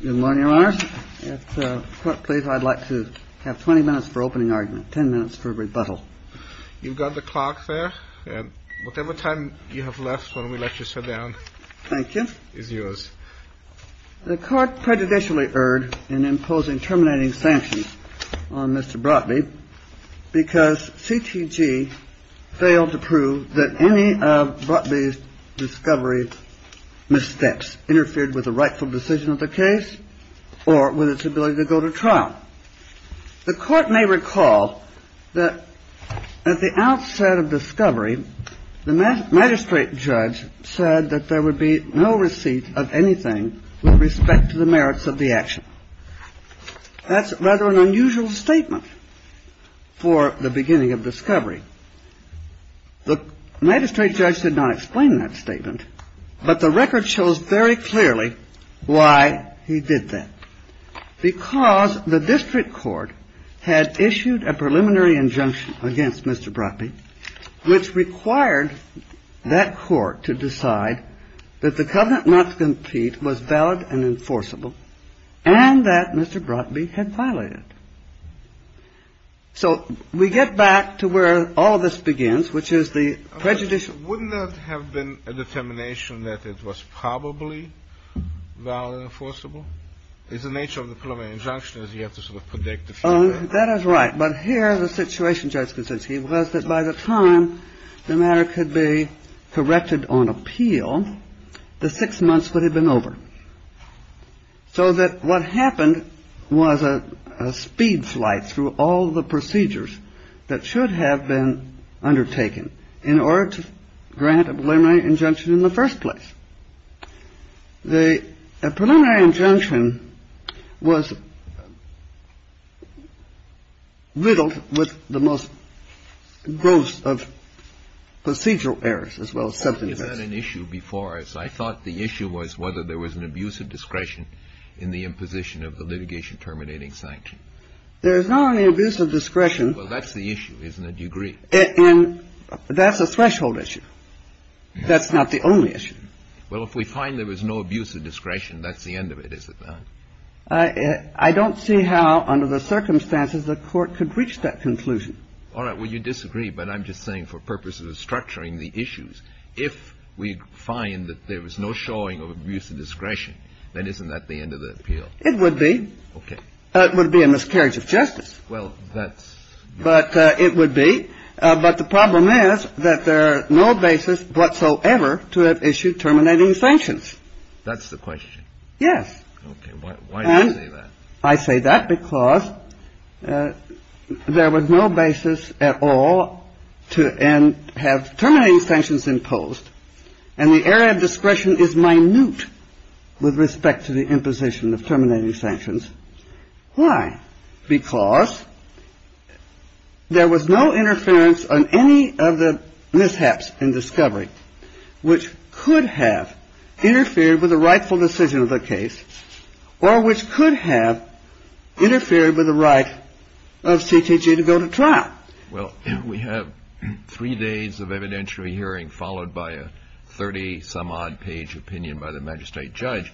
Good morning, Your Honor. If the court please, I'd like to have 20 minutes for opening argument, 10 minutes for rebuttal. You've got the clock there. Whatever time you have left, why don't we let you sit down. Thank you. The court prejudicially erred in imposing terminating sanctions on Mr. T.G. failed to prove that any of Brotby's discovery mistakes interfered with the rightful decision of the case or with its ability to go to trial. The court may recall that at the outset of discovery, the magistrate judge said that there would be no receipt of anything with respect to the merits of the action. That's rather an unusual statement for the beginning of discovery. The magistrate judge did not explain that statement, but the record shows very clearly why he did that. Because the district court had issued a preliminary injunction against Mr. Brotby, which required that court to decide that the covenant not to compete was valid and enforceable and that Mr. Brotby had violated it. So we get back to where all of this begins, which is the prejudice. Wouldn't that have been a determination that it was probably valid and enforceable? It's the nature of the preliminary injunction is you have to sort of predict the future. That is right. But here the situation, Judge Kuczynski, was that by the time the matter could be corrected on appeal, the six months would have been over. So that what happened was a speed flight through all the procedures that should have been undertaken in order to grant a preliminary injunction in the first place. The preliminary injunction was riddled with the most gross of procedural errors as well as substantive errors. Is that an issue before us? I thought the issue was whether there was an abuse of discretion in the imposition of the litigation terminating sanction. There is not an abuse of discretion. Well, that's the issue, isn't it? You agree. And that's a threshold issue. That's not the only issue. Well, if we find there was no abuse of discretion, that's the end of it, is it not? I don't see how under the circumstances the Court could reach that conclusion. All right. Well, you disagree. But I'm just saying for purposes of structuring the issues, if we find that there was no showing of abuse of discretion, then isn't that the end of the appeal? It would be. Okay. It would be a miscarriage of justice. Well, that's. But it would be. But the problem is that there are no basis whatsoever to have issued terminating sanctions. That's the question. Yes. Okay. Why do you say that? I say that because there was no basis at all to have terminating sanctions imposed. And the error of discretion is minute with respect to the imposition of terminating sanctions. Why? Because there was no interference on any of the mishaps in discovery which could have interfered with the rightful decision of the case or which could have interfered with the right of CKJ to go to trial. Well, we have three days of evidentiary hearing followed by a 30 some odd page opinion by the magistrate judge,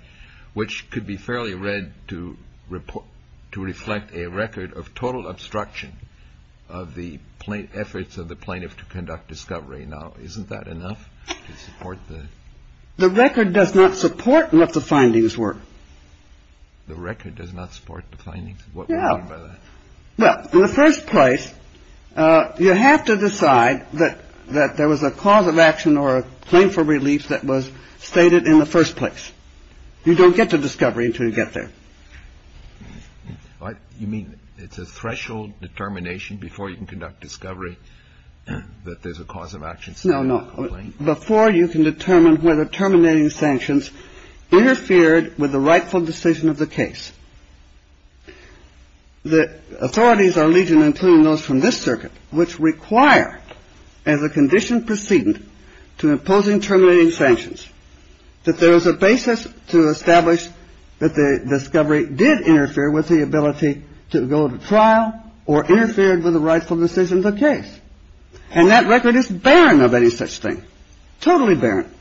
which could be fairly read to report to reflect a record of total obstruction of the plate efforts of the plaintiff to conduct discovery. Now, isn't that enough to support the record? Does not support what the findings were. The record does not support the findings. Yeah. Well, in the first place, you have to decide that that there was a cause of action or a claim for relief that was stated in the first place. You don't get to discovery until you get there. You mean it's a threshold determination before you can conduct discovery that there's a cause of action? Before you can determine whether terminating sanctions interfered with the rightful decision of the case. The authorities are Legion, including those from this circuit, which require as a condition proceed to imposing terminating sanctions, that there is a basis to establish that the discovery did interfere with the ability to go to trial or interfered with the rightful decision of the case. And that record is barren of any such thing. Totally barren.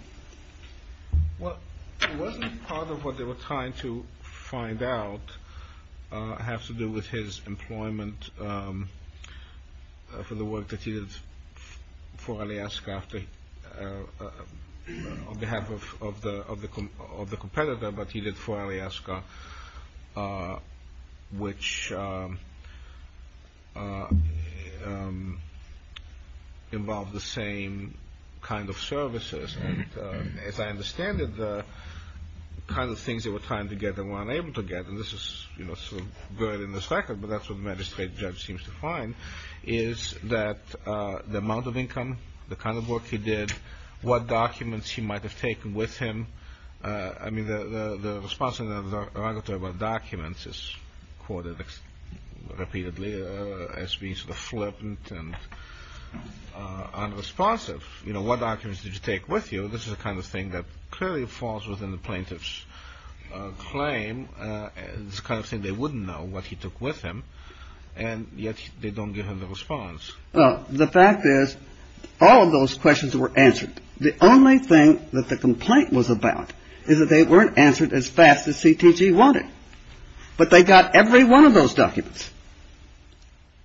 Well, it wasn't part of what they were trying to find out. I have to do with his employment for the work that he did for Alaska after on behalf of the of the of the competitor. But he did for Alaska, which involved the same kind of services. And as I understand it, the kind of things that were trying to get them were unable to get. And this is, you know, so good in the second. But that's what the magistrate judge seems to find is that the amount of income, the kind of work he did, what documents he might have taken with him. I mean, the response to documents is quoted repeatedly as being sort of flippant and unresponsive. You know, what documents did you take with you? This is the kind of thing that clearly falls within the plaintiff's claim. It's kind of thing they wouldn't know what he took with him. And yet they don't give him the response. Well, the fact is, all of those questions were answered. The only thing that the complaint was about is that they weren't answered as fast as CTG wanted. But they got every one of those documents.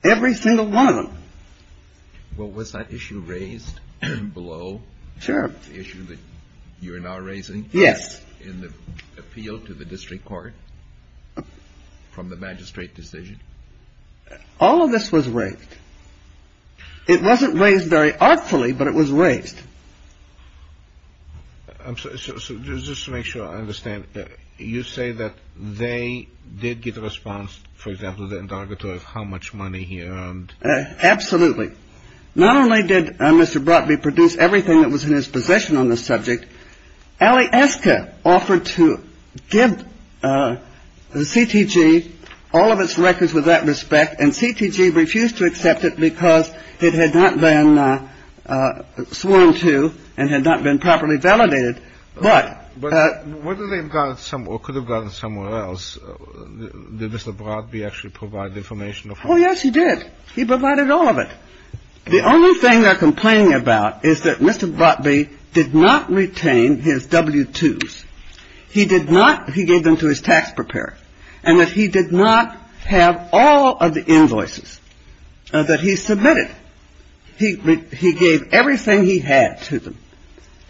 Every single one of them. Well, was that issue raised below? Sure. The issue that you're now raising. Yes. In the appeal to the district court from the magistrate decision. All of this was raised. It wasn't raised very artfully, but it was raised. I'm sorry. So just to make sure I understand. You say that they did get a response, for example, the interrogatory of how much money he earned. Absolutely. Not only did Mr. Brotby produce everything that was in his possession on the subject, but he also provided all of the information that Mr. Brotby did not receive. He provided all of the information that Mr. Brotby did not receive. Allie Eska offered to give the CTG all of its records with that respect. And CTG refused to accept it because it had not been sworn to and had not been properly validated. But whether they got some or could have gotten somewhere else, did Mr. Brotby actually provide the information? Oh, yes, he did. He provided all of it. The only thing they're complaining about is that Mr. Brotby did not retain his W-2s. He did not. He gave them to his tax preparer. And that he did not have all of the invoices that he submitted. He gave everything he had to them.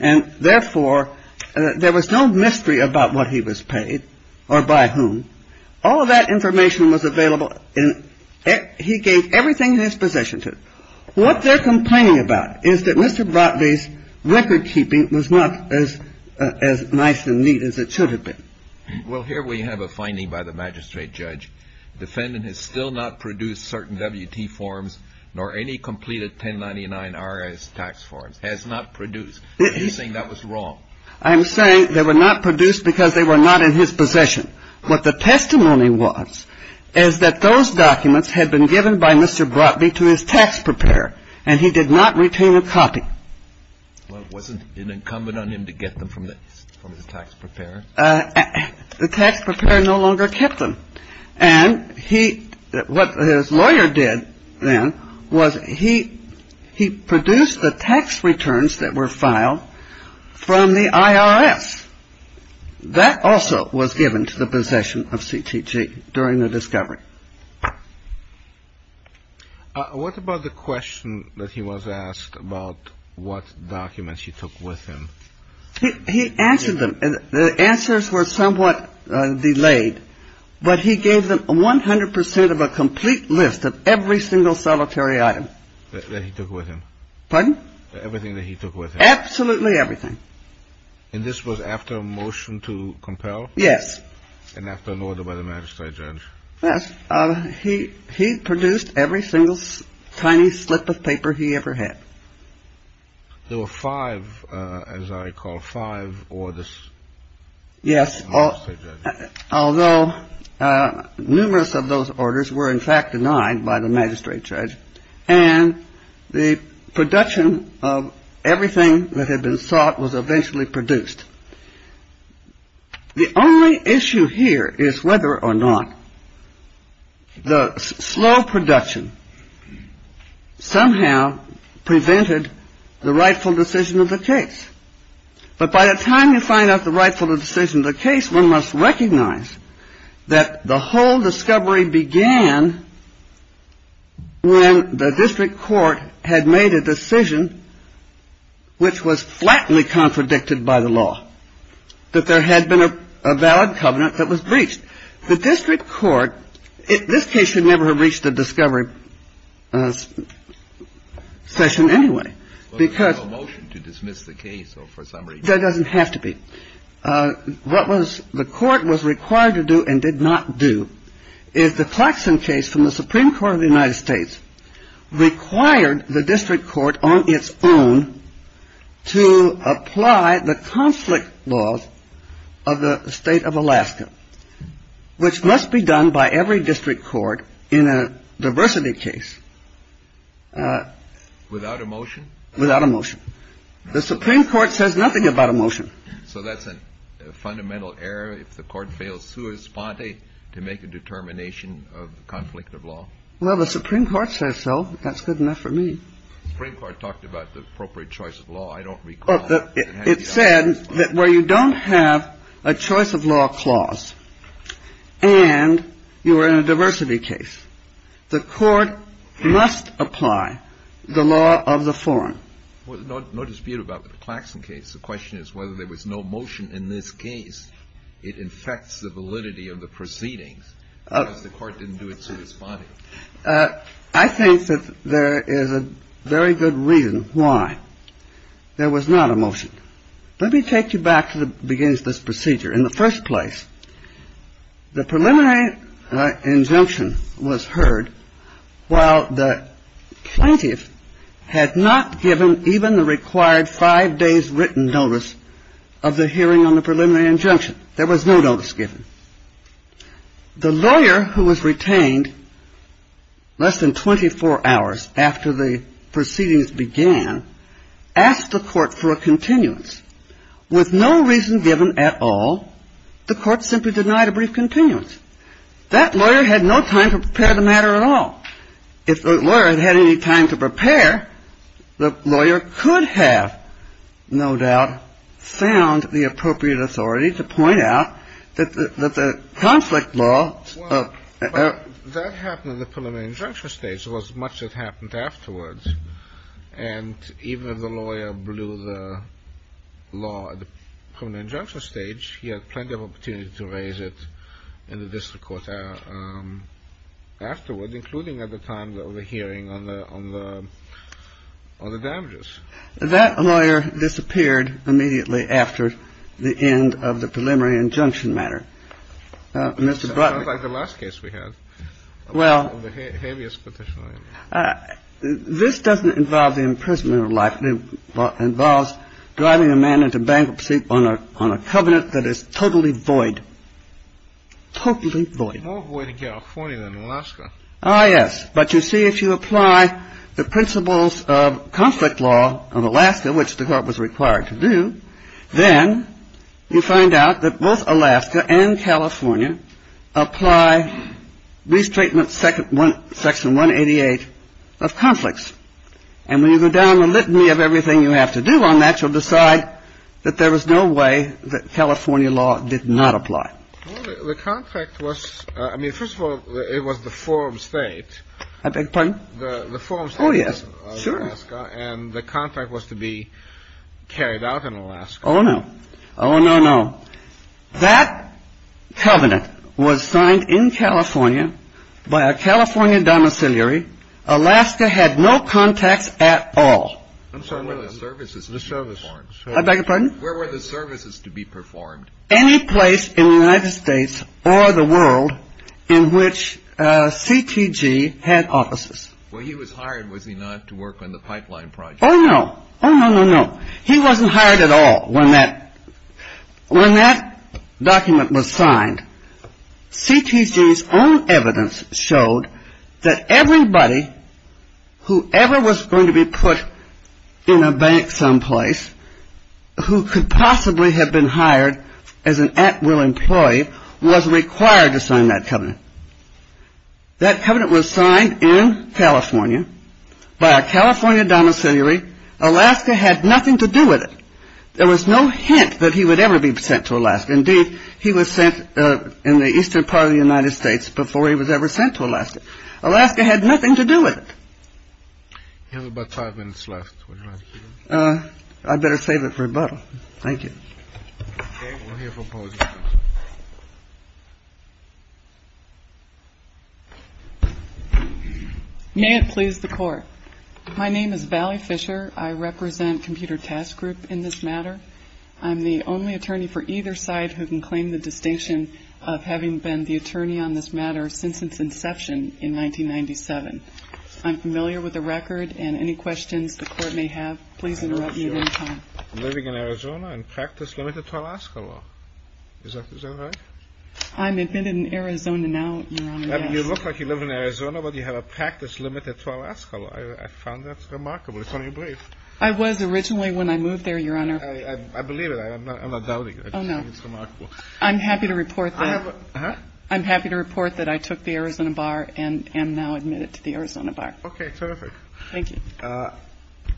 And therefore, there was no mystery about what he was paid or by whom. All of that information was available and he gave everything in his possession to them. What they're complaining about is that Mr. Brotby's record keeping was not as nice and neat as it should have been. Well, here we have a finding by the magistrate judge. The defendant has still not produced certain W-2 forms nor any completed 1099-RS tax forms. Has not produced. And you're saying that was wrong. I'm saying they were not produced because they were not in his possession. What the testimony was is that those documents had been given by Mr. Brotby to his tax preparer and he did not retain a copy. Well, it wasn't incumbent on him to get them from the tax preparer? The tax preparer no longer kept them. And what his lawyer did then was he produced the tax returns that were filed from the IRS. That also was given to the possession of CTG during the discovery. What about the question that he was asked about what documents he took with him? He answered them. The answers were somewhat delayed, but he gave them 100 percent of a complete list of every single solitary item. That he took with him. Pardon? Everything that he took with him. Absolutely everything. And this was after a motion to compel? Yes. And after an order by the magistrate judge? Yes. He produced every single tiny slip of paper he ever had. There were five, as I recall, five orders. Yes. Although numerous of those orders were in fact denied by the magistrate judge and the production of everything that had been sought was eventually produced. The only issue here is whether or not the slow production somehow prevented the rightful decision of the case. But by the time you find out the rightful decision of the case, one must recognize that the whole discovery began when the district court had made a decision which was flatly contradicted by the law. That there had been a valid covenant that was breached. The district court, this case should never have reached a discovery session anyway. Well, there's no motion to dismiss the case for some reason. That doesn't have to be. What the court was required to do and did not do is the Claxton case from the Supreme Court of the United States required the district court on its own to apply the conflict laws of the state of Alaska, which must be done by every district court in a diversity case. Without a motion. Without a motion. The Supreme Court says nothing about a motion. So that's a fundamental error. If the court fails to respond to make a determination of conflict of law. Well, the Supreme Court says so. That's good enough for me. The Supreme Court talked about the appropriate choice of law. I don't recall. It said that where you don't have a choice of law clause and you are in a diversity case, the court must apply the law of the forum. Well, no dispute about the Claxton case. The question is whether there was no motion in this case. It infects the validity of the proceedings because the court didn't do it so responsibly. I think that there is a very good reason why there was not a motion. Let me take you back to the beginning of this procedure. In the first place, the preliminary injunction was heard while the plaintiff had not given even the required five days written notice of the hearing on the preliminary injunction. There was no notice given. The lawyer who was retained less than 24 hours after the proceedings began asked the court for a continuance. With no reason given at all, the court simply denied a brief continuance. That lawyer had no time to prepare the matter at all. If the lawyer had had any time to prepare, the lawyer could have no doubt found the appropriate authority to point out that the conflict law of the ---- Well, that happened in the preliminary injunction stage. It was much that happened afterwards. And even if the lawyer blew the law at the preliminary injunction stage, he had plenty of opportunity to raise it in the district court afterward, including at the time of the hearing on the damages. That lawyer disappeared immediately after the end of the preliminary injunction matter. It sounds like the last case we had. Well, this doesn't involve the imprisonment or life. It involves driving a man into bankruptcy on a covenant that is totally void. Totally void. It's more void in California than Alaska. Ah, yes. But you see, if you apply the principles of conflict law of Alaska, which the court was required to do, then you find out that both Alaska and California apply restatement section 188 of conflicts. And when you go down the litany of everything you have to do on that, you'll decide that there was no way that California law did not apply. The contract was I mean, first of all, it was the forum state. I beg your pardon. The forum. Oh, yes. Sure. And the contract was to be carried out in Alaska. Oh, no. Oh, no, no. That covenant was signed in California by a California domiciliary. Alaska had no contacts at all. I'm sorry. The services. The service. I beg your pardon. Where were the services to be performed? Any place in the United States or the world in which CTG had offices. Well, he was hired, was he not, to work on the pipeline project? Oh, no. Oh, no, no, no. He wasn't hired at all when that document was signed. CTG's own evidence showed that everybody who ever was going to be put in a bank someplace who could possibly have been hired as an at-will employee was required to sign that covenant. That covenant was signed in California by a California domiciliary. Alaska had nothing to do with it. There was no hint that he would ever be sent to Alaska. Indeed, he was sent in the eastern part of the United States before he was ever sent to Alaska. Alaska had nothing to do with it. You have about five minutes left. I better save it for rebuttal. Thank you. May it please the Court. My name is Valley Fisher. I represent Computer Task Group in this matter. I'm the only attorney for either side who can claim the distinction of having been the attorney on this matter since its inception in 1997. I'm familiar with the record, and any questions the Court may have, please interrupt me at any time. Living in Arizona and practice limited to Alaska law. Is that right? I'm admitted in Arizona now, Your Honor, yes. You look like you live in Arizona, but you have a practice limited to Alaska law. I found that remarkable. It's on your brief. I was originally when I moved there, Your Honor. I believe it. I'm not doubting it. Oh, no. It's remarkable. I'm happy to report that. I'm happy to report that I took the Arizona bar and am now admitted to the Arizona bar. Okay, terrific. Thank you. I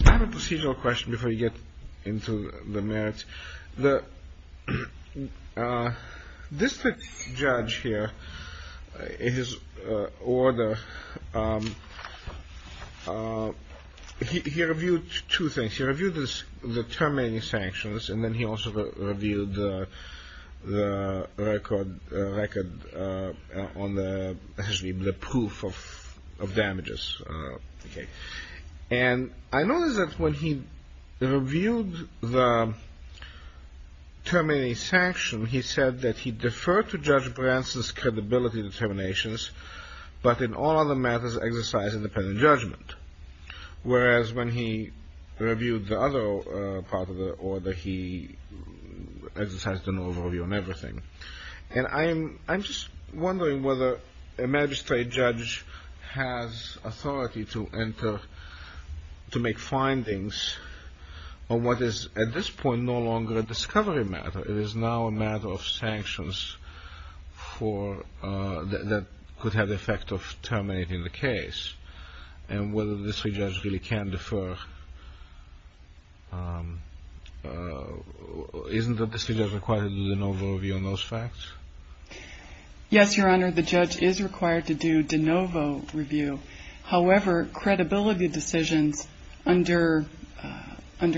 have a procedural question before you get into the merits. The district judge here, in his order, he reviewed two things. He reviewed the terminating sanctions, and then he also reviewed the record on the proof of damages. And I noticed that when he reviewed the terminating sanction, he said that he deferred to Judge Branson's credibility determinations, but in all other matters exercised independent judgment, whereas when he reviewed the other part of the order, he exercised an overview on everything. And I'm just wondering whether a magistrate judge has authority to enter, to make findings on what is at this point no longer a discovery matter. It is now a matter of sanctions that could have the effect of terminating the case, and whether the district judge really can defer. Isn't the district judge required to do de novo review on those facts? Yes, Your Honor, the judge is required to do de novo review. However, credibility decisions under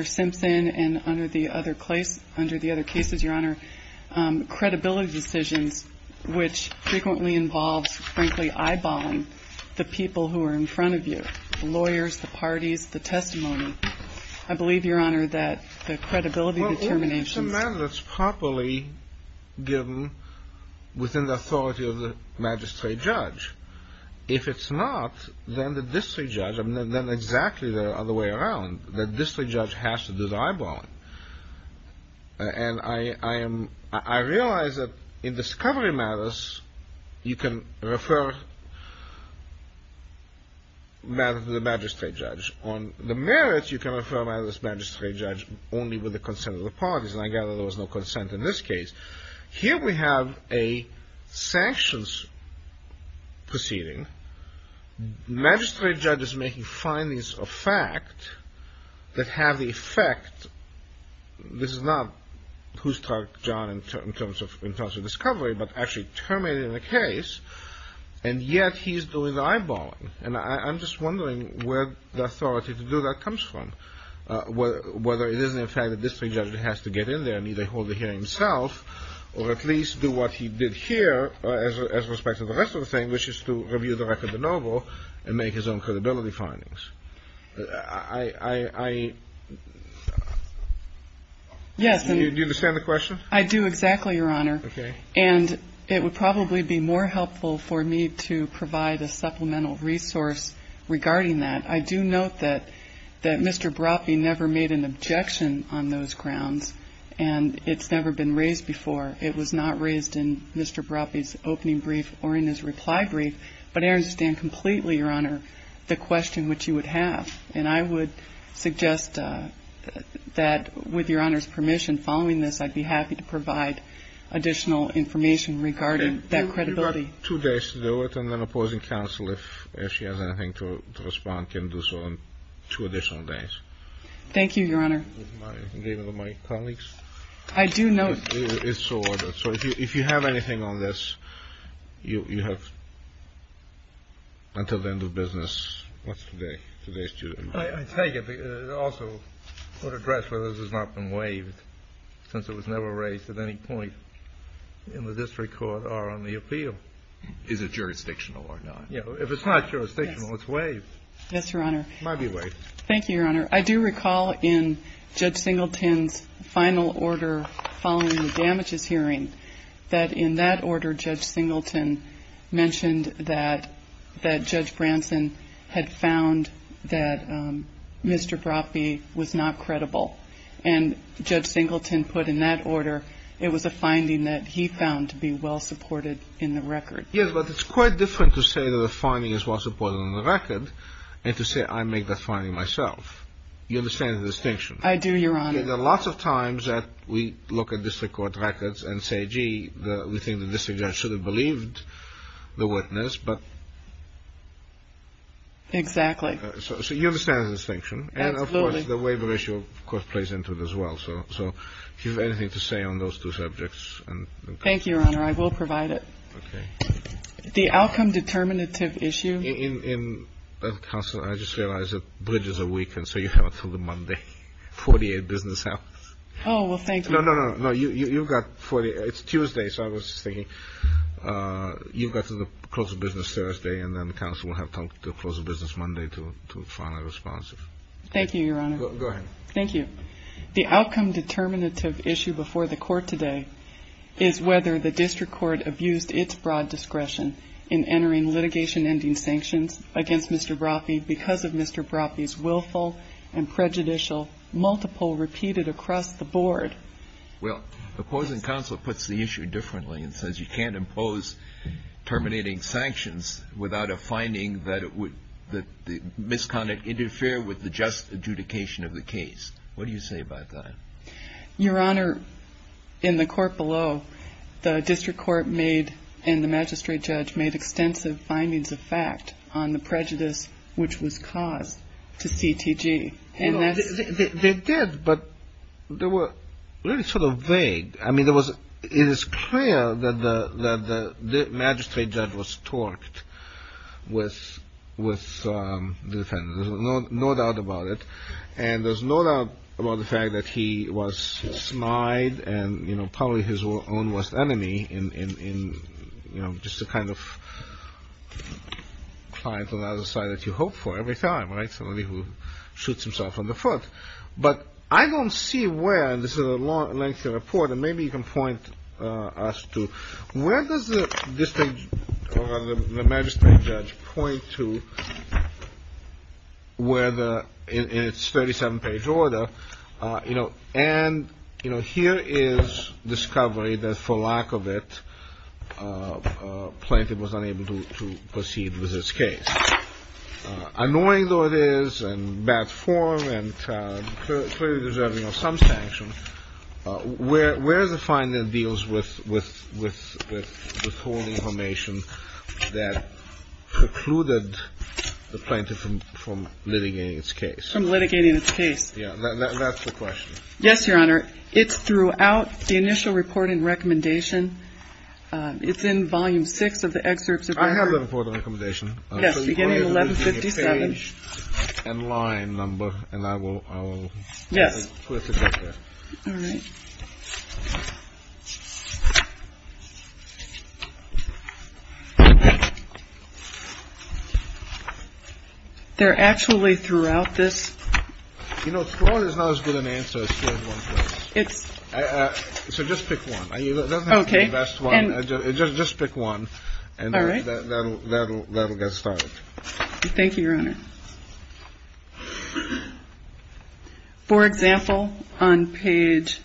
Simpson and under the other cases, Your Honor, credibility decisions, which frequently involves, frankly, eyeballing the people who are in front of you, the lawyers, the parties, the testimony. I believe, Your Honor, that the credibility determinations... Well, it's a matter that's properly given within the authority of the magistrate judge. If it's not, then the district judge, then exactly the other way around, the district judge has to do the eyeballing. And I realize that in discovery matters, you can refer matters to the magistrate judge. On the merits, you can refer matters to the magistrate judge only with the consent of the parties, and I gather there was no consent in this case. Here we have a sanctions proceeding. Magistrate judge is making findings of fact that have the effect, this is not who struck John in terms of discovery, but actually terminated the case, and yet he's doing the eyeballing. And I'm just wondering where the authority to do that comes from, whether it is, in fact, the district judge has to get in there and either hold the hearing himself or at least do what he did here as respect to the rest of the thing, which is to review the record of the noble and make his own credibility findings. I... Yes. Do you understand the question? I do exactly, Your Honor. Okay. And it would probably be more helpful for me to provide a supplemental resource regarding that. I do note that Mr. Brophy never made an objection on those grounds, and it's never been raised before. It was not raised in Mr. Brophy's opening brief or in his reply brief, but I understand completely, Your Honor, the question which you would have. And I would suggest that with Your Honor's permission following this, I'd be happy to provide additional information regarding that credibility. Okay. You've got two days to do it, and then opposing counsel, if she has anything to respond, can do so on two additional days. Thank you, Your Honor. My colleagues. I do note... It's so ordered. So if you have anything on this, you have until the end of business. What's today? Today is Tuesday. I take it. Also, court address whether this has not been waived, since it was never raised at any point in the district court or on the appeal. Is it jurisdictional or not? Yeah. If it's not jurisdictional, it's waived. Yes, Your Honor. It might be waived. Thank you, Your Honor. I do recall in Judge Singleton's final order following the damages hearing that in that order, Judge Singleton mentioned that Judge Branson had found that Mr. Broffey was not credible. And Judge Singleton put in that order it was a finding that he found to be well-supported in the record. Yes, but it's quite different to say that a finding is well-supported in the record and to say I make that finding myself. You understand the distinction? I do, Your Honor. There are lots of times that we look at district court records and say, gee, we think the district judge should have believed the witness, but... Exactly. So you understand the distinction. Absolutely. And, of course, the waiver issue, of course, plays into it as well. So if you have anything to say on those two subjects... Thank you, Your Honor. I will provide it. Okay. The outcome determinative issue... Counsel, I just realized that bridge is a week, and so you have it until the Monday. 48 business hours. Oh, well, thank you. No, no, no. You've got 48. It's Tuesday, so I was just thinking you've got to close the business Thursday, and then counsel will have to close the business Monday to find a response. Thank you, Your Honor. Go ahead. Thank you. The outcome determinative issue before the court today is whether the district court abused its broad discretion in entering litigation-ending sanctions against Mr. Brophy because of Mr. Brophy's willful and prejudicial multiple repeated across the board. Well, opposing counsel puts the issue differently and says you can't impose terminating sanctions without a finding that the misconduct interfere with the just adjudication of the case. What do you say about that? Your Honor, in the court below, the district court made and the magistrate judge made extensive findings of fact on the prejudice which was caused to CTG. They did, but they were really sort of vague. I mean, it is clear that the magistrate judge was torqued with the defendant. There's no doubt about it, and there's no doubt about the fact that he was snide and, you know, probably his own worst enemy in, you know, just the kind of client on the other side that you hope for every time, right, somebody who shoots himself in the foot. But I don't see where, and this is a lengthy report, and maybe you can point us to, where does the district or the magistrate judge point to where the, in its 37-page order, you know, and, you know, here is discovery that for lack of it Plaintiff was unable to proceed with this case. Annoying though it is and bad form and clearly deserving of some sanction, where is the finding that deals with withholding information that precluded the Plaintiff from litigating its case? From litigating its case. Yeah, that's the question. Yes, Your Honor. It's throughout the initial report and recommendation. It's in Volume 6 of the excerpts. I have the report and recommendation. Yes, beginning of 1157. And line number. And I will. Yes. All right. They're actually throughout this. You know, it's not as good an answer. It's so just pick one. OK. Just pick one. All right. That'll get started. Thank you, Your Honor. For example, on page.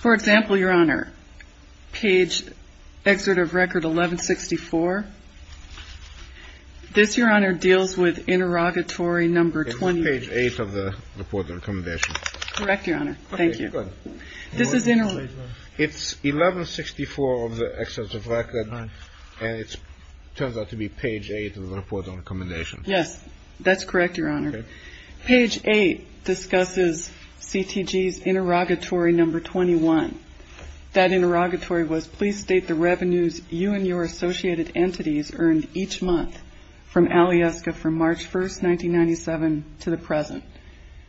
For example, Your Honor. Page excerpt of record 1164. This, Your Honor, deals with interrogatory number 28. It's page 8 of the report and recommendation. Correct, Your Honor. Thank you. This is in. It's 1164 of the excerpts of record. And it turns out to be page 8 of the report and recommendation. Yes, that's correct, Your Honor. Page 8 discusses CTG's interrogatory number 21. That interrogatory was, please state the revenues you and your associated entities earned each month from Alyeska from March 1, 1997 to the present.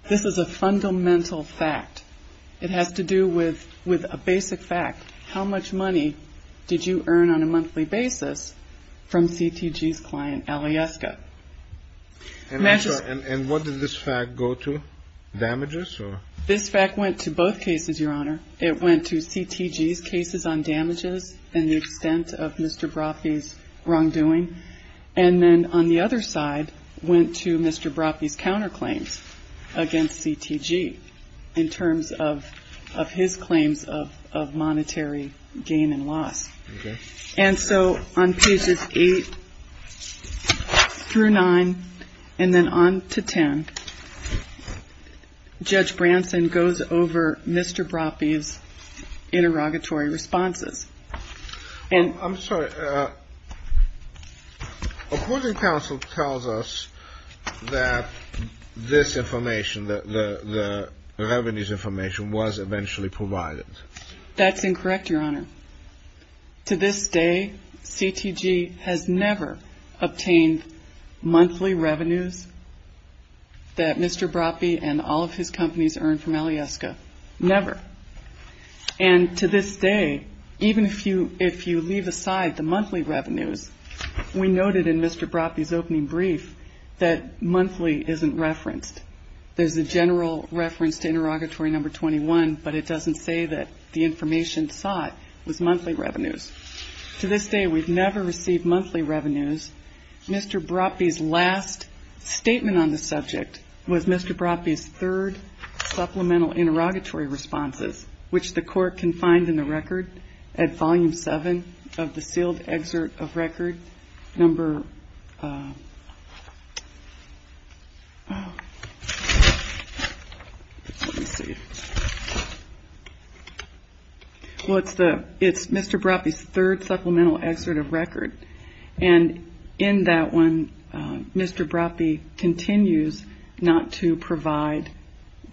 This is a fundamental fact. It has to do with a basic fact. How much money did you earn on a monthly basis from CTG's client Alyeska? And what did this fact go to? Damages or? This fact went to both cases, Your Honor. It went to CTG's cases on damages and the extent of Mr. Broffey's wrongdoing. And then on the other side, went to Mr. Broffey's counterclaims against CTG in terms of his claims of monetary gain and loss. Okay. And so on pages 8 through 9, and then on to 10, Judge Branson goes over Mr. Broffey's interrogatory responses. I'm sorry. According to counsel tells us that this information, the revenues information, was eventually provided. That's incorrect, Your Honor. To this day, CTG has never obtained monthly revenues that Mr. Broffey and all of his companies earned from Alyeska. Never. And to this day, even if you leave aside the monthly revenues, we noted in Mr. Broffey's opening brief that monthly isn't referenced. There's a general reference to interrogatory number 21, but it doesn't say that the information sought was monthly revenues. To this day, we've never received monthly revenues. Mr. Broffey's last statement on the subject was Mr. Broffey's third supplemental interrogatory responses, which the court can find in the record at volume 7 of the sealed excerpt of record number. Let me see. Well, it's Mr. Broffey's third supplemental excerpt of record, and in that one, Mr. Broffey continues not to provide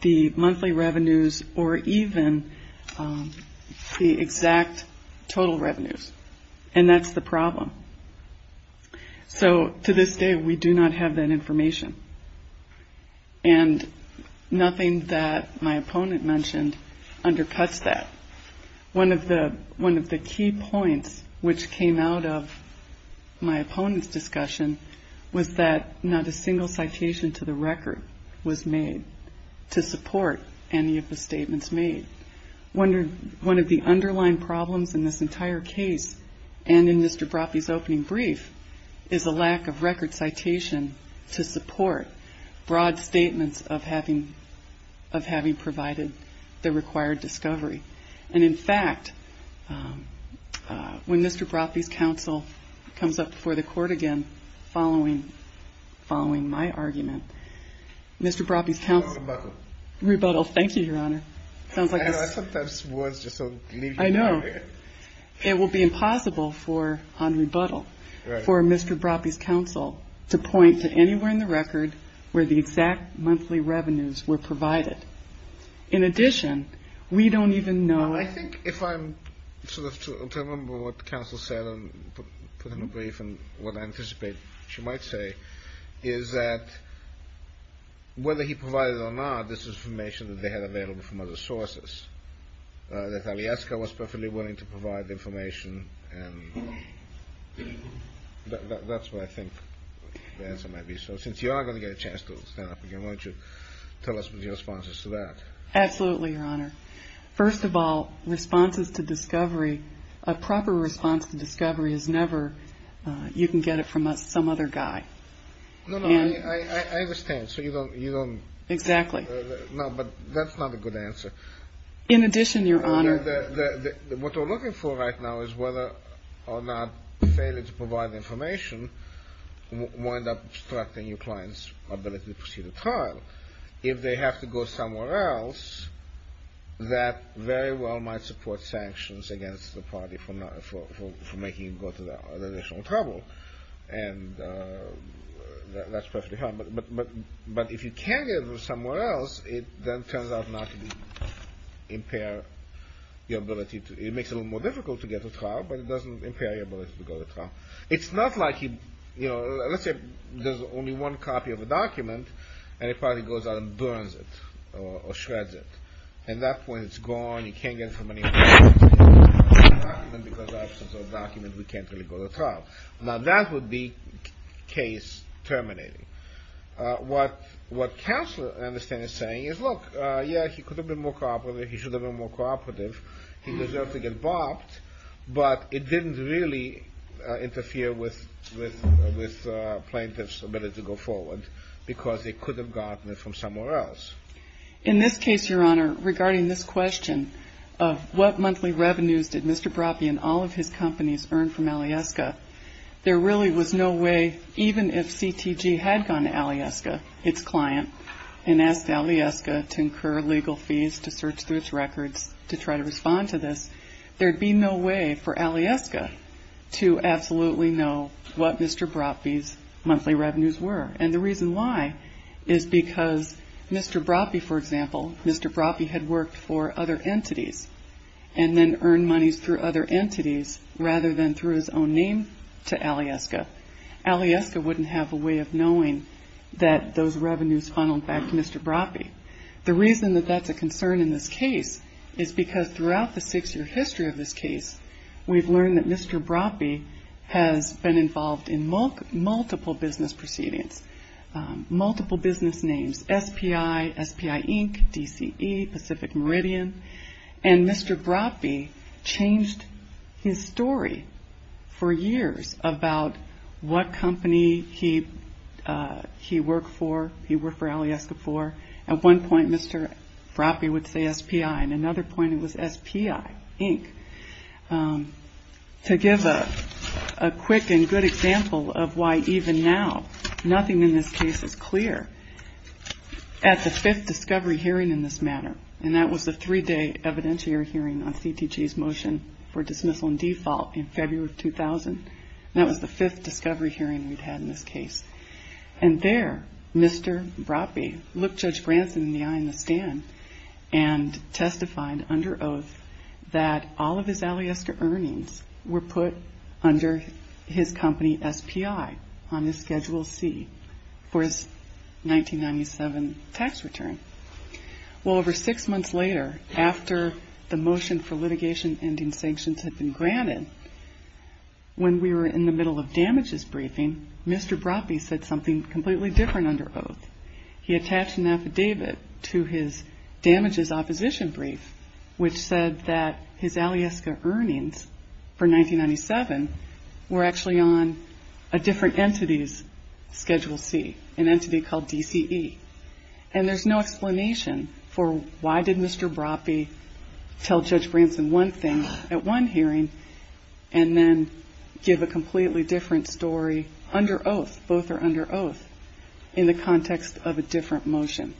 the monthly revenues or even the exact total revenues. And that's the problem. So to this day, we do not have that information. And nothing that my opponent mentioned undercuts that. One of the key points which came out of my opponent's discussion was that not a single citation to the record was made to support any of the statements made. One of the underlying problems in this entire case and in Mr. Broffey's opening brief is a lack of record citation to support broad statements of having provided the required discovery. And, in fact, when Mr. Broffey's counsel comes up before the court again following my argument, Mr. Broffey's counsel. On rebuttal. Rebuttal. Thank you, Your Honor. I sometimes words just don't leave me. I know. It will be impossible on rebuttal for Mr. Broffey's counsel to point to anywhere in the record where the exact monthly revenues were provided. In addition, we don't even know. I think if I'm to remember what counsel said and put in a brief and what I anticipate she might say is that. Whether he provided or not, this is information that they had available from other sources. I was perfectly willing to provide information. That's what I think the answer might be. So since you are going to get a chance to stand up again, why don't you tell us what your response is to that? Absolutely, Your Honor. First of all, responses to discovery, a proper response to discovery is never you can get it from some other guy. I understand. So you don't. You don't. Exactly. No, but that's not a good answer. In addition, Your Honor. What we're looking for right now is whether or not failure to provide information will end up obstructing your client's ability to proceed to trial. If they have to go somewhere else, that very well might support sanctions against the party for making them go to that additional trouble. And that's perfectly fine. But if you can't get it from somewhere else, it then turns out not to impair your ability. It makes it a little more difficult to get to trial, but it doesn't impair your ability to go to trial. It's not like, you know, let's say there's only one copy of a document and a party goes out and burns it or shreds it. At that point, it's gone. You can't get it from anywhere else. Because of the absence of a document, we can't really go to trial. Now, that would be case terminating. What Counselor Anderson is saying is, look, yeah, he could have been more cooperative. He should have been more cooperative. He deserved to get bopped, but it didn't really interfere with plaintiff's ability to go forward because they could have gotten it from somewhere else. In this case, Your Honor, regarding this question of what monthly revenues did Mr. Broppe and all of his companies earn from Alyeska, there really was no way, even if CTG had gone to Alyeska, its client, and asked Alyeska to incur legal fees to search through its records to try to respond to this, there would be no way for Alyeska to absolutely know what Mr. Broppe's monthly revenues were. And the reason why is because Mr. Broppe, for example, Mr. Broppe had worked for other entities and then earned monies through other entities rather than through his own name to Alyeska. Alyeska wouldn't have a way of knowing that those revenues funneled back to Mr. Broppe. The reason that that's a concern in this case is because throughout the six-year history of this case, we've learned that Mr. Broppe has been involved in multiple business proceedings, multiple business names, SPI, SPI, Inc., DCE, Pacific Meridian. And Mr. Broppe changed his story for years about what company he worked for, he worked for Alyeska for. At one point, Mr. Broppe would say SPI, and another point it was SPI, Inc. To give a quick and good example of why even now nothing in this case is clear, at the fifth discovery hearing in this matter, and that was the three-day evidentiary hearing on CTG's motion for dismissal and default in February of 2000, that was the fifth discovery hearing we'd had in this case. And there, Mr. Broppe looked Judge Branson in the eye in the stand and testified under oath that all of his Alyeska earnings were put under his company SPI on his Schedule C for his 1997 tax return. Well, over six months later, after the motion for litigation ending sanctions had been granted, when we were in the middle of damages briefing, Mr. Broppe said something completely different under oath. He attached an affidavit to his damages opposition brief, which said that his Alyeska earnings for 1997 were actually on a different entity's Schedule C, an entity called DCE. And there's no explanation for why did Mr. Broppe tell Judge Branson one thing at one hearing and then give a completely different story under oath, both are under oath, in the context of a different motion.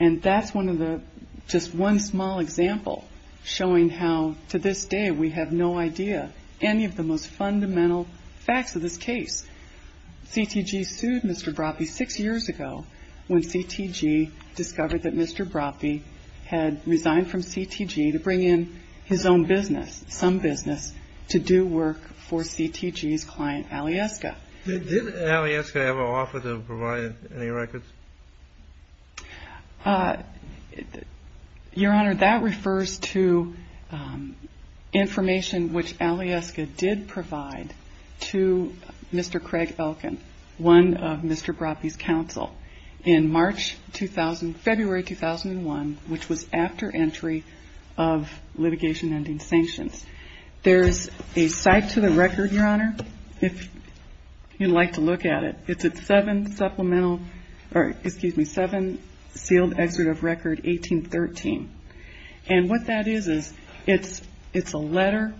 And that's one of the, just one small example showing how, to this day, we have no idea any of the most fundamental facts of this case. CTG sued Mr. Broppe six years ago when CTG discovered that Mr. Broppe had resigned from CTG to bring in his own business, some business, to do work for CTG's client Alyeska. Did Alyeska ever offer to provide any records? Your Honor, that refers to information which Alyeska did provide to Mr. Craig Elkin, one of Mr. Broppe's counsel, in March 2000, February 2001, which was after entry of litigation ending sanctions. There's a cite to the record, Your Honor, if you'd like to look at it. It's a seven supplemental, or excuse me, seven sealed excerpt of record 1813. And what that is is it's a letter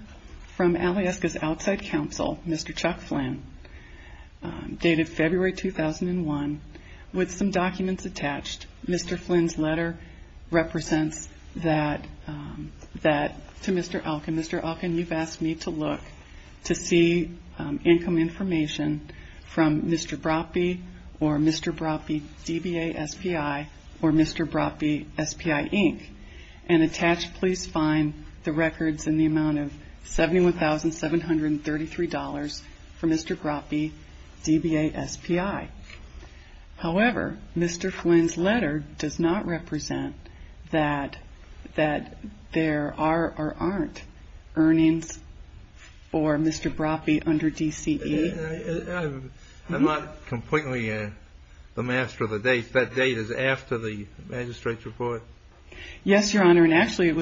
from Alyeska's outside counsel, Mr. Chuck Flynn, dated February 2001, with some documents attached. Mr. Flynn's letter represents that to Mr. Elkin. Mr. Elkin, you've asked me to look to see income information from Mr. Broppe or Mr. Broppe DBA SPI or Mr. Broppe SPI, Inc. And attached, please, find the records in the amount of $71,733 for Mr. Broppe DBA SPI. However, Mr. Flynn's letter does not represent that there are or aren't earnings for Mr. Broppe under DCE. I'm not completely the master of the dates. That date is after the magistrate's report? Yes, Your Honor, and actually it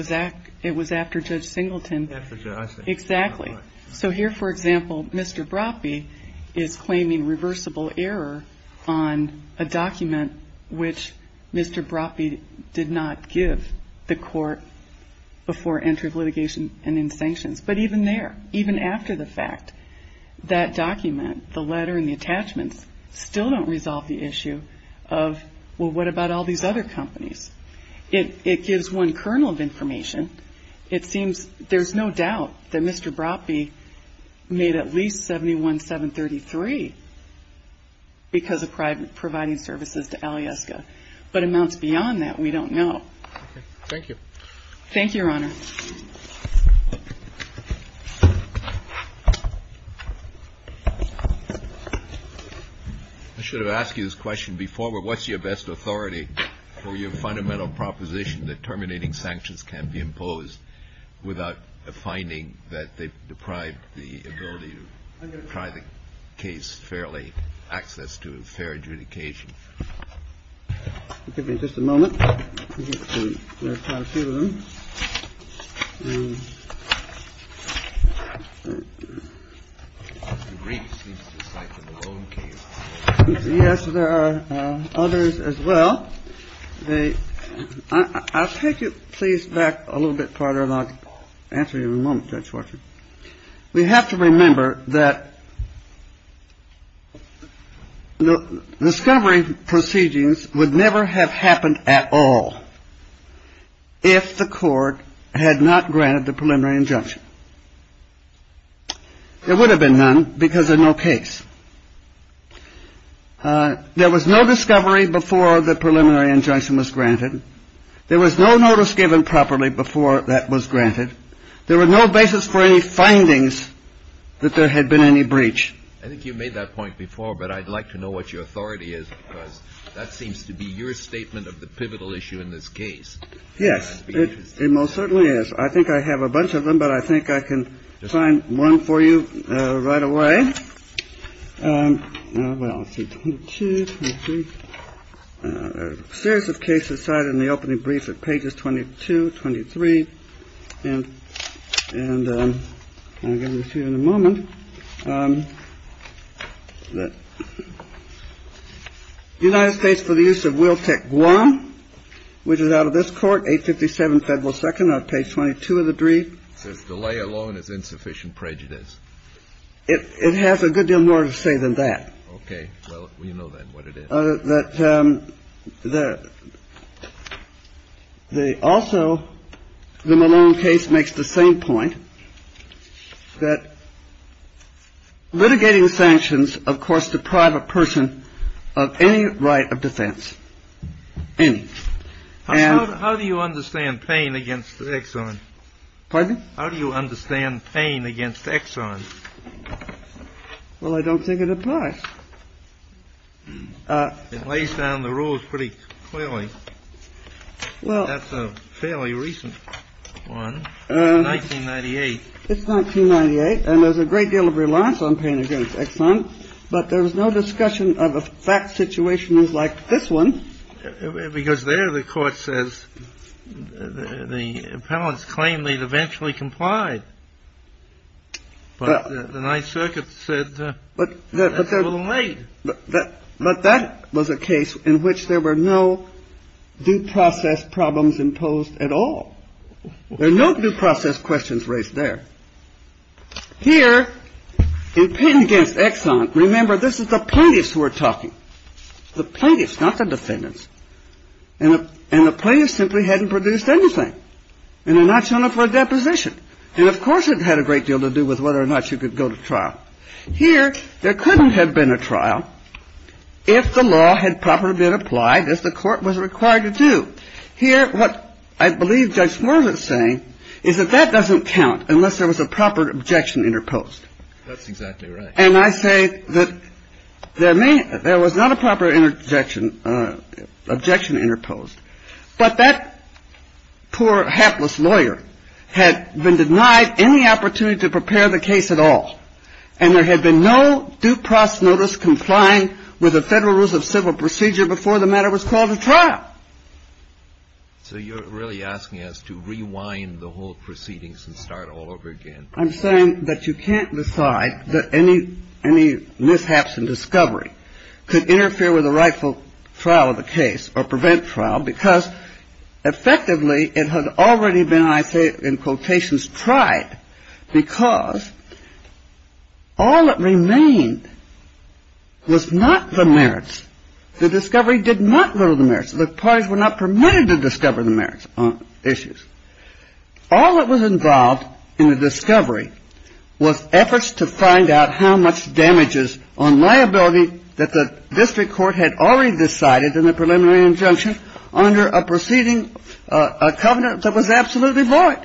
was after Judge Singleton. After Judge Singleton. Exactly. So here, for example, Mr. Broppe is claiming reversible error on a document which Mr. Broppe did not give the court before entry of litigation and in sanctions. But even there, even after the fact, that document, the letter and the attachments, still don't resolve the issue of, well, what about all these other companies? It gives one kernel of information. It seems there's no doubt that Mr. Broppe made at least $71,733 because of providing services to Alyeska. But amounts beyond that, we don't know. Thank you. Thank you, Your Honor. I should have asked you this question before. But what's your best authority for your fundamental proposition that terminating sanctions can be imposed without a finding that they deprive the ability to try the case fairly, access to fair adjudication? I'll give you just a moment. Yes, there are others as well. I'll take you please back a little bit farther. We have to remember that the discovery proceedings would never have happened at all if the court had not granted the preliminary injunction. There would have been none because there's no case. There was no discovery before the preliminary injunction was granted. There was no notice given properly before that was granted. There were no basis for any findings that there had been any breach. I think you made that point before, but I'd like to know what your authority is, because that seems to be your statement of the pivotal issue in this case. Yes, it most certainly is. I think I have a bunch of them, but I think I can find one for you right away. I'm going to read it in the opening brief at pages 22, 23. And I'll give it to you in a moment. The United States for the use of Wiltek Gouin, which is out of this court, 857 Federal Second, page 22 of the brief. It says delay alone is insufficient prejudice. It has a good deal more to say than that. OK, well, you know, then what it is that the also the Malone case makes the same point that litigating sanctions, of course, deprive a person of any right of defense. And how do you understand pain against the Exxon? Pardon? How do you understand pain against Exxon? Well, I don't think it applies. It lays down the rules pretty clearly. Well, that's a fairly recent one. It's 1998. It's 1998. And there's a great deal of reliance on pain against Exxon. But there was no discussion of a fact situation like this one. Because there the court says the appellants claim they'd eventually complied. But the Ninth Circuit said that's a little late. But that was a case in which there were no due process problems imposed at all. There are no due process questions raised there. Here, in pain against Exxon, remember, this is the plaintiffs who are talking. The plaintiffs, not the defendants. And the plaintiffs simply hadn't produced anything. And they're not showing up for a deposition. And, of course, it had a great deal to do with whether or not you could go to trial. Here, there couldn't have been a trial if the law had properly been applied as the court was required to do. Here, what I believe Judge Swerdlett's saying is that that doesn't count unless there was a proper objection interposed. That's exactly right. And I say that there was not a proper objection interposed. But that poor, hapless lawyer had been denied any opportunity to prepare the case at all. And there had been no due process notice complying with the Federal Rules of Civil Procedure before the matter was called to trial. So you're really asking us to rewind the whole proceedings and start all over again. I'm saying that you can't decide that any mishaps in discovery could interfere with the rightful trial of the case or prevent trial because, effectively, it had already been, I say in quotations, tried because all that remained was not the merits. The discovery did not go to the merits. The parties were not permitted to discover the merits on issues. All that was involved in the discovery was efforts to find out how much damages on liability that the district court had already decided in the preliminary injunction under a proceeding, a covenant that was absolutely void.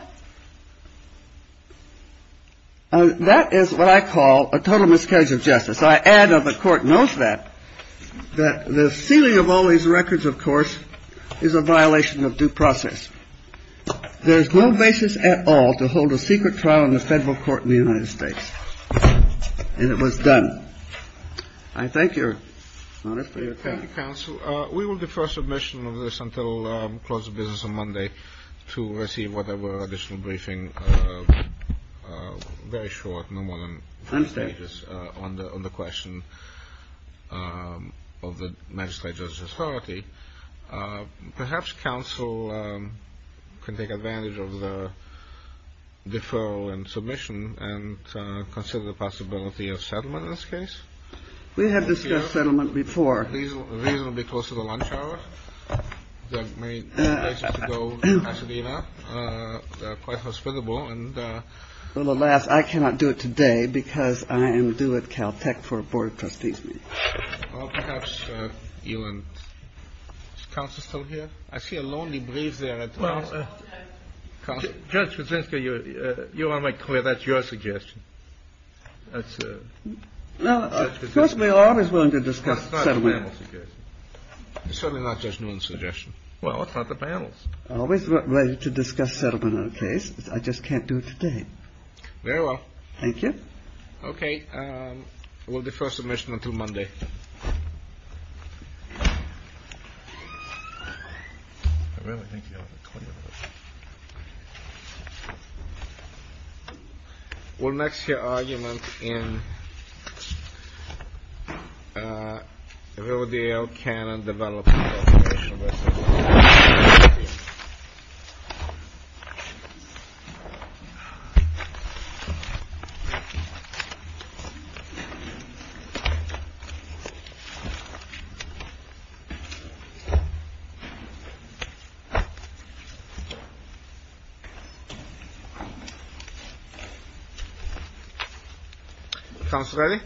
That is what I call a total miscarriage of justice. So I add, and the Court knows that, that the sealing of all these records, of course, is a violation of due process. There is no basis at all to hold a secret trial in the Federal Court in the United States. And it was done. I thank Your Honor for your time. Thank you, counsel. We will defer submission of this until close of business on Monday to receive whatever additional briefing, very short, no more than five pages, on the question of the magistrate's authority. Perhaps counsel can take advantage of the deferral and submission and consider the possibility of settlement in this case. We have discussed settlement before. Reasonably close to the lunch hour. There are many places to go in Pasadena. They are quite hospitable. Well, alas, I cannot do it today because I am due at Caltech for a Board of Trustees meeting. Well, perhaps you and counsel still here? I see a lonely breeze there. Well, Judge Kuczynski, you want to make clear that's your suggestion. That's Judge Kuczynski's. Well, of course, we are always willing to discuss settlement. That's not the panel's suggestion. It's certainly not Judge Newman's suggestion. Well, it's not the panel's. I'm always ready to discuss settlement on a case. I just can't do it today. Very well. Thank you. Okay. We'll defer submission until Monday. Thank you. I really think you have a point. We'll next hear argument in Rodeo Cannon development. Thank you. Counsel ready?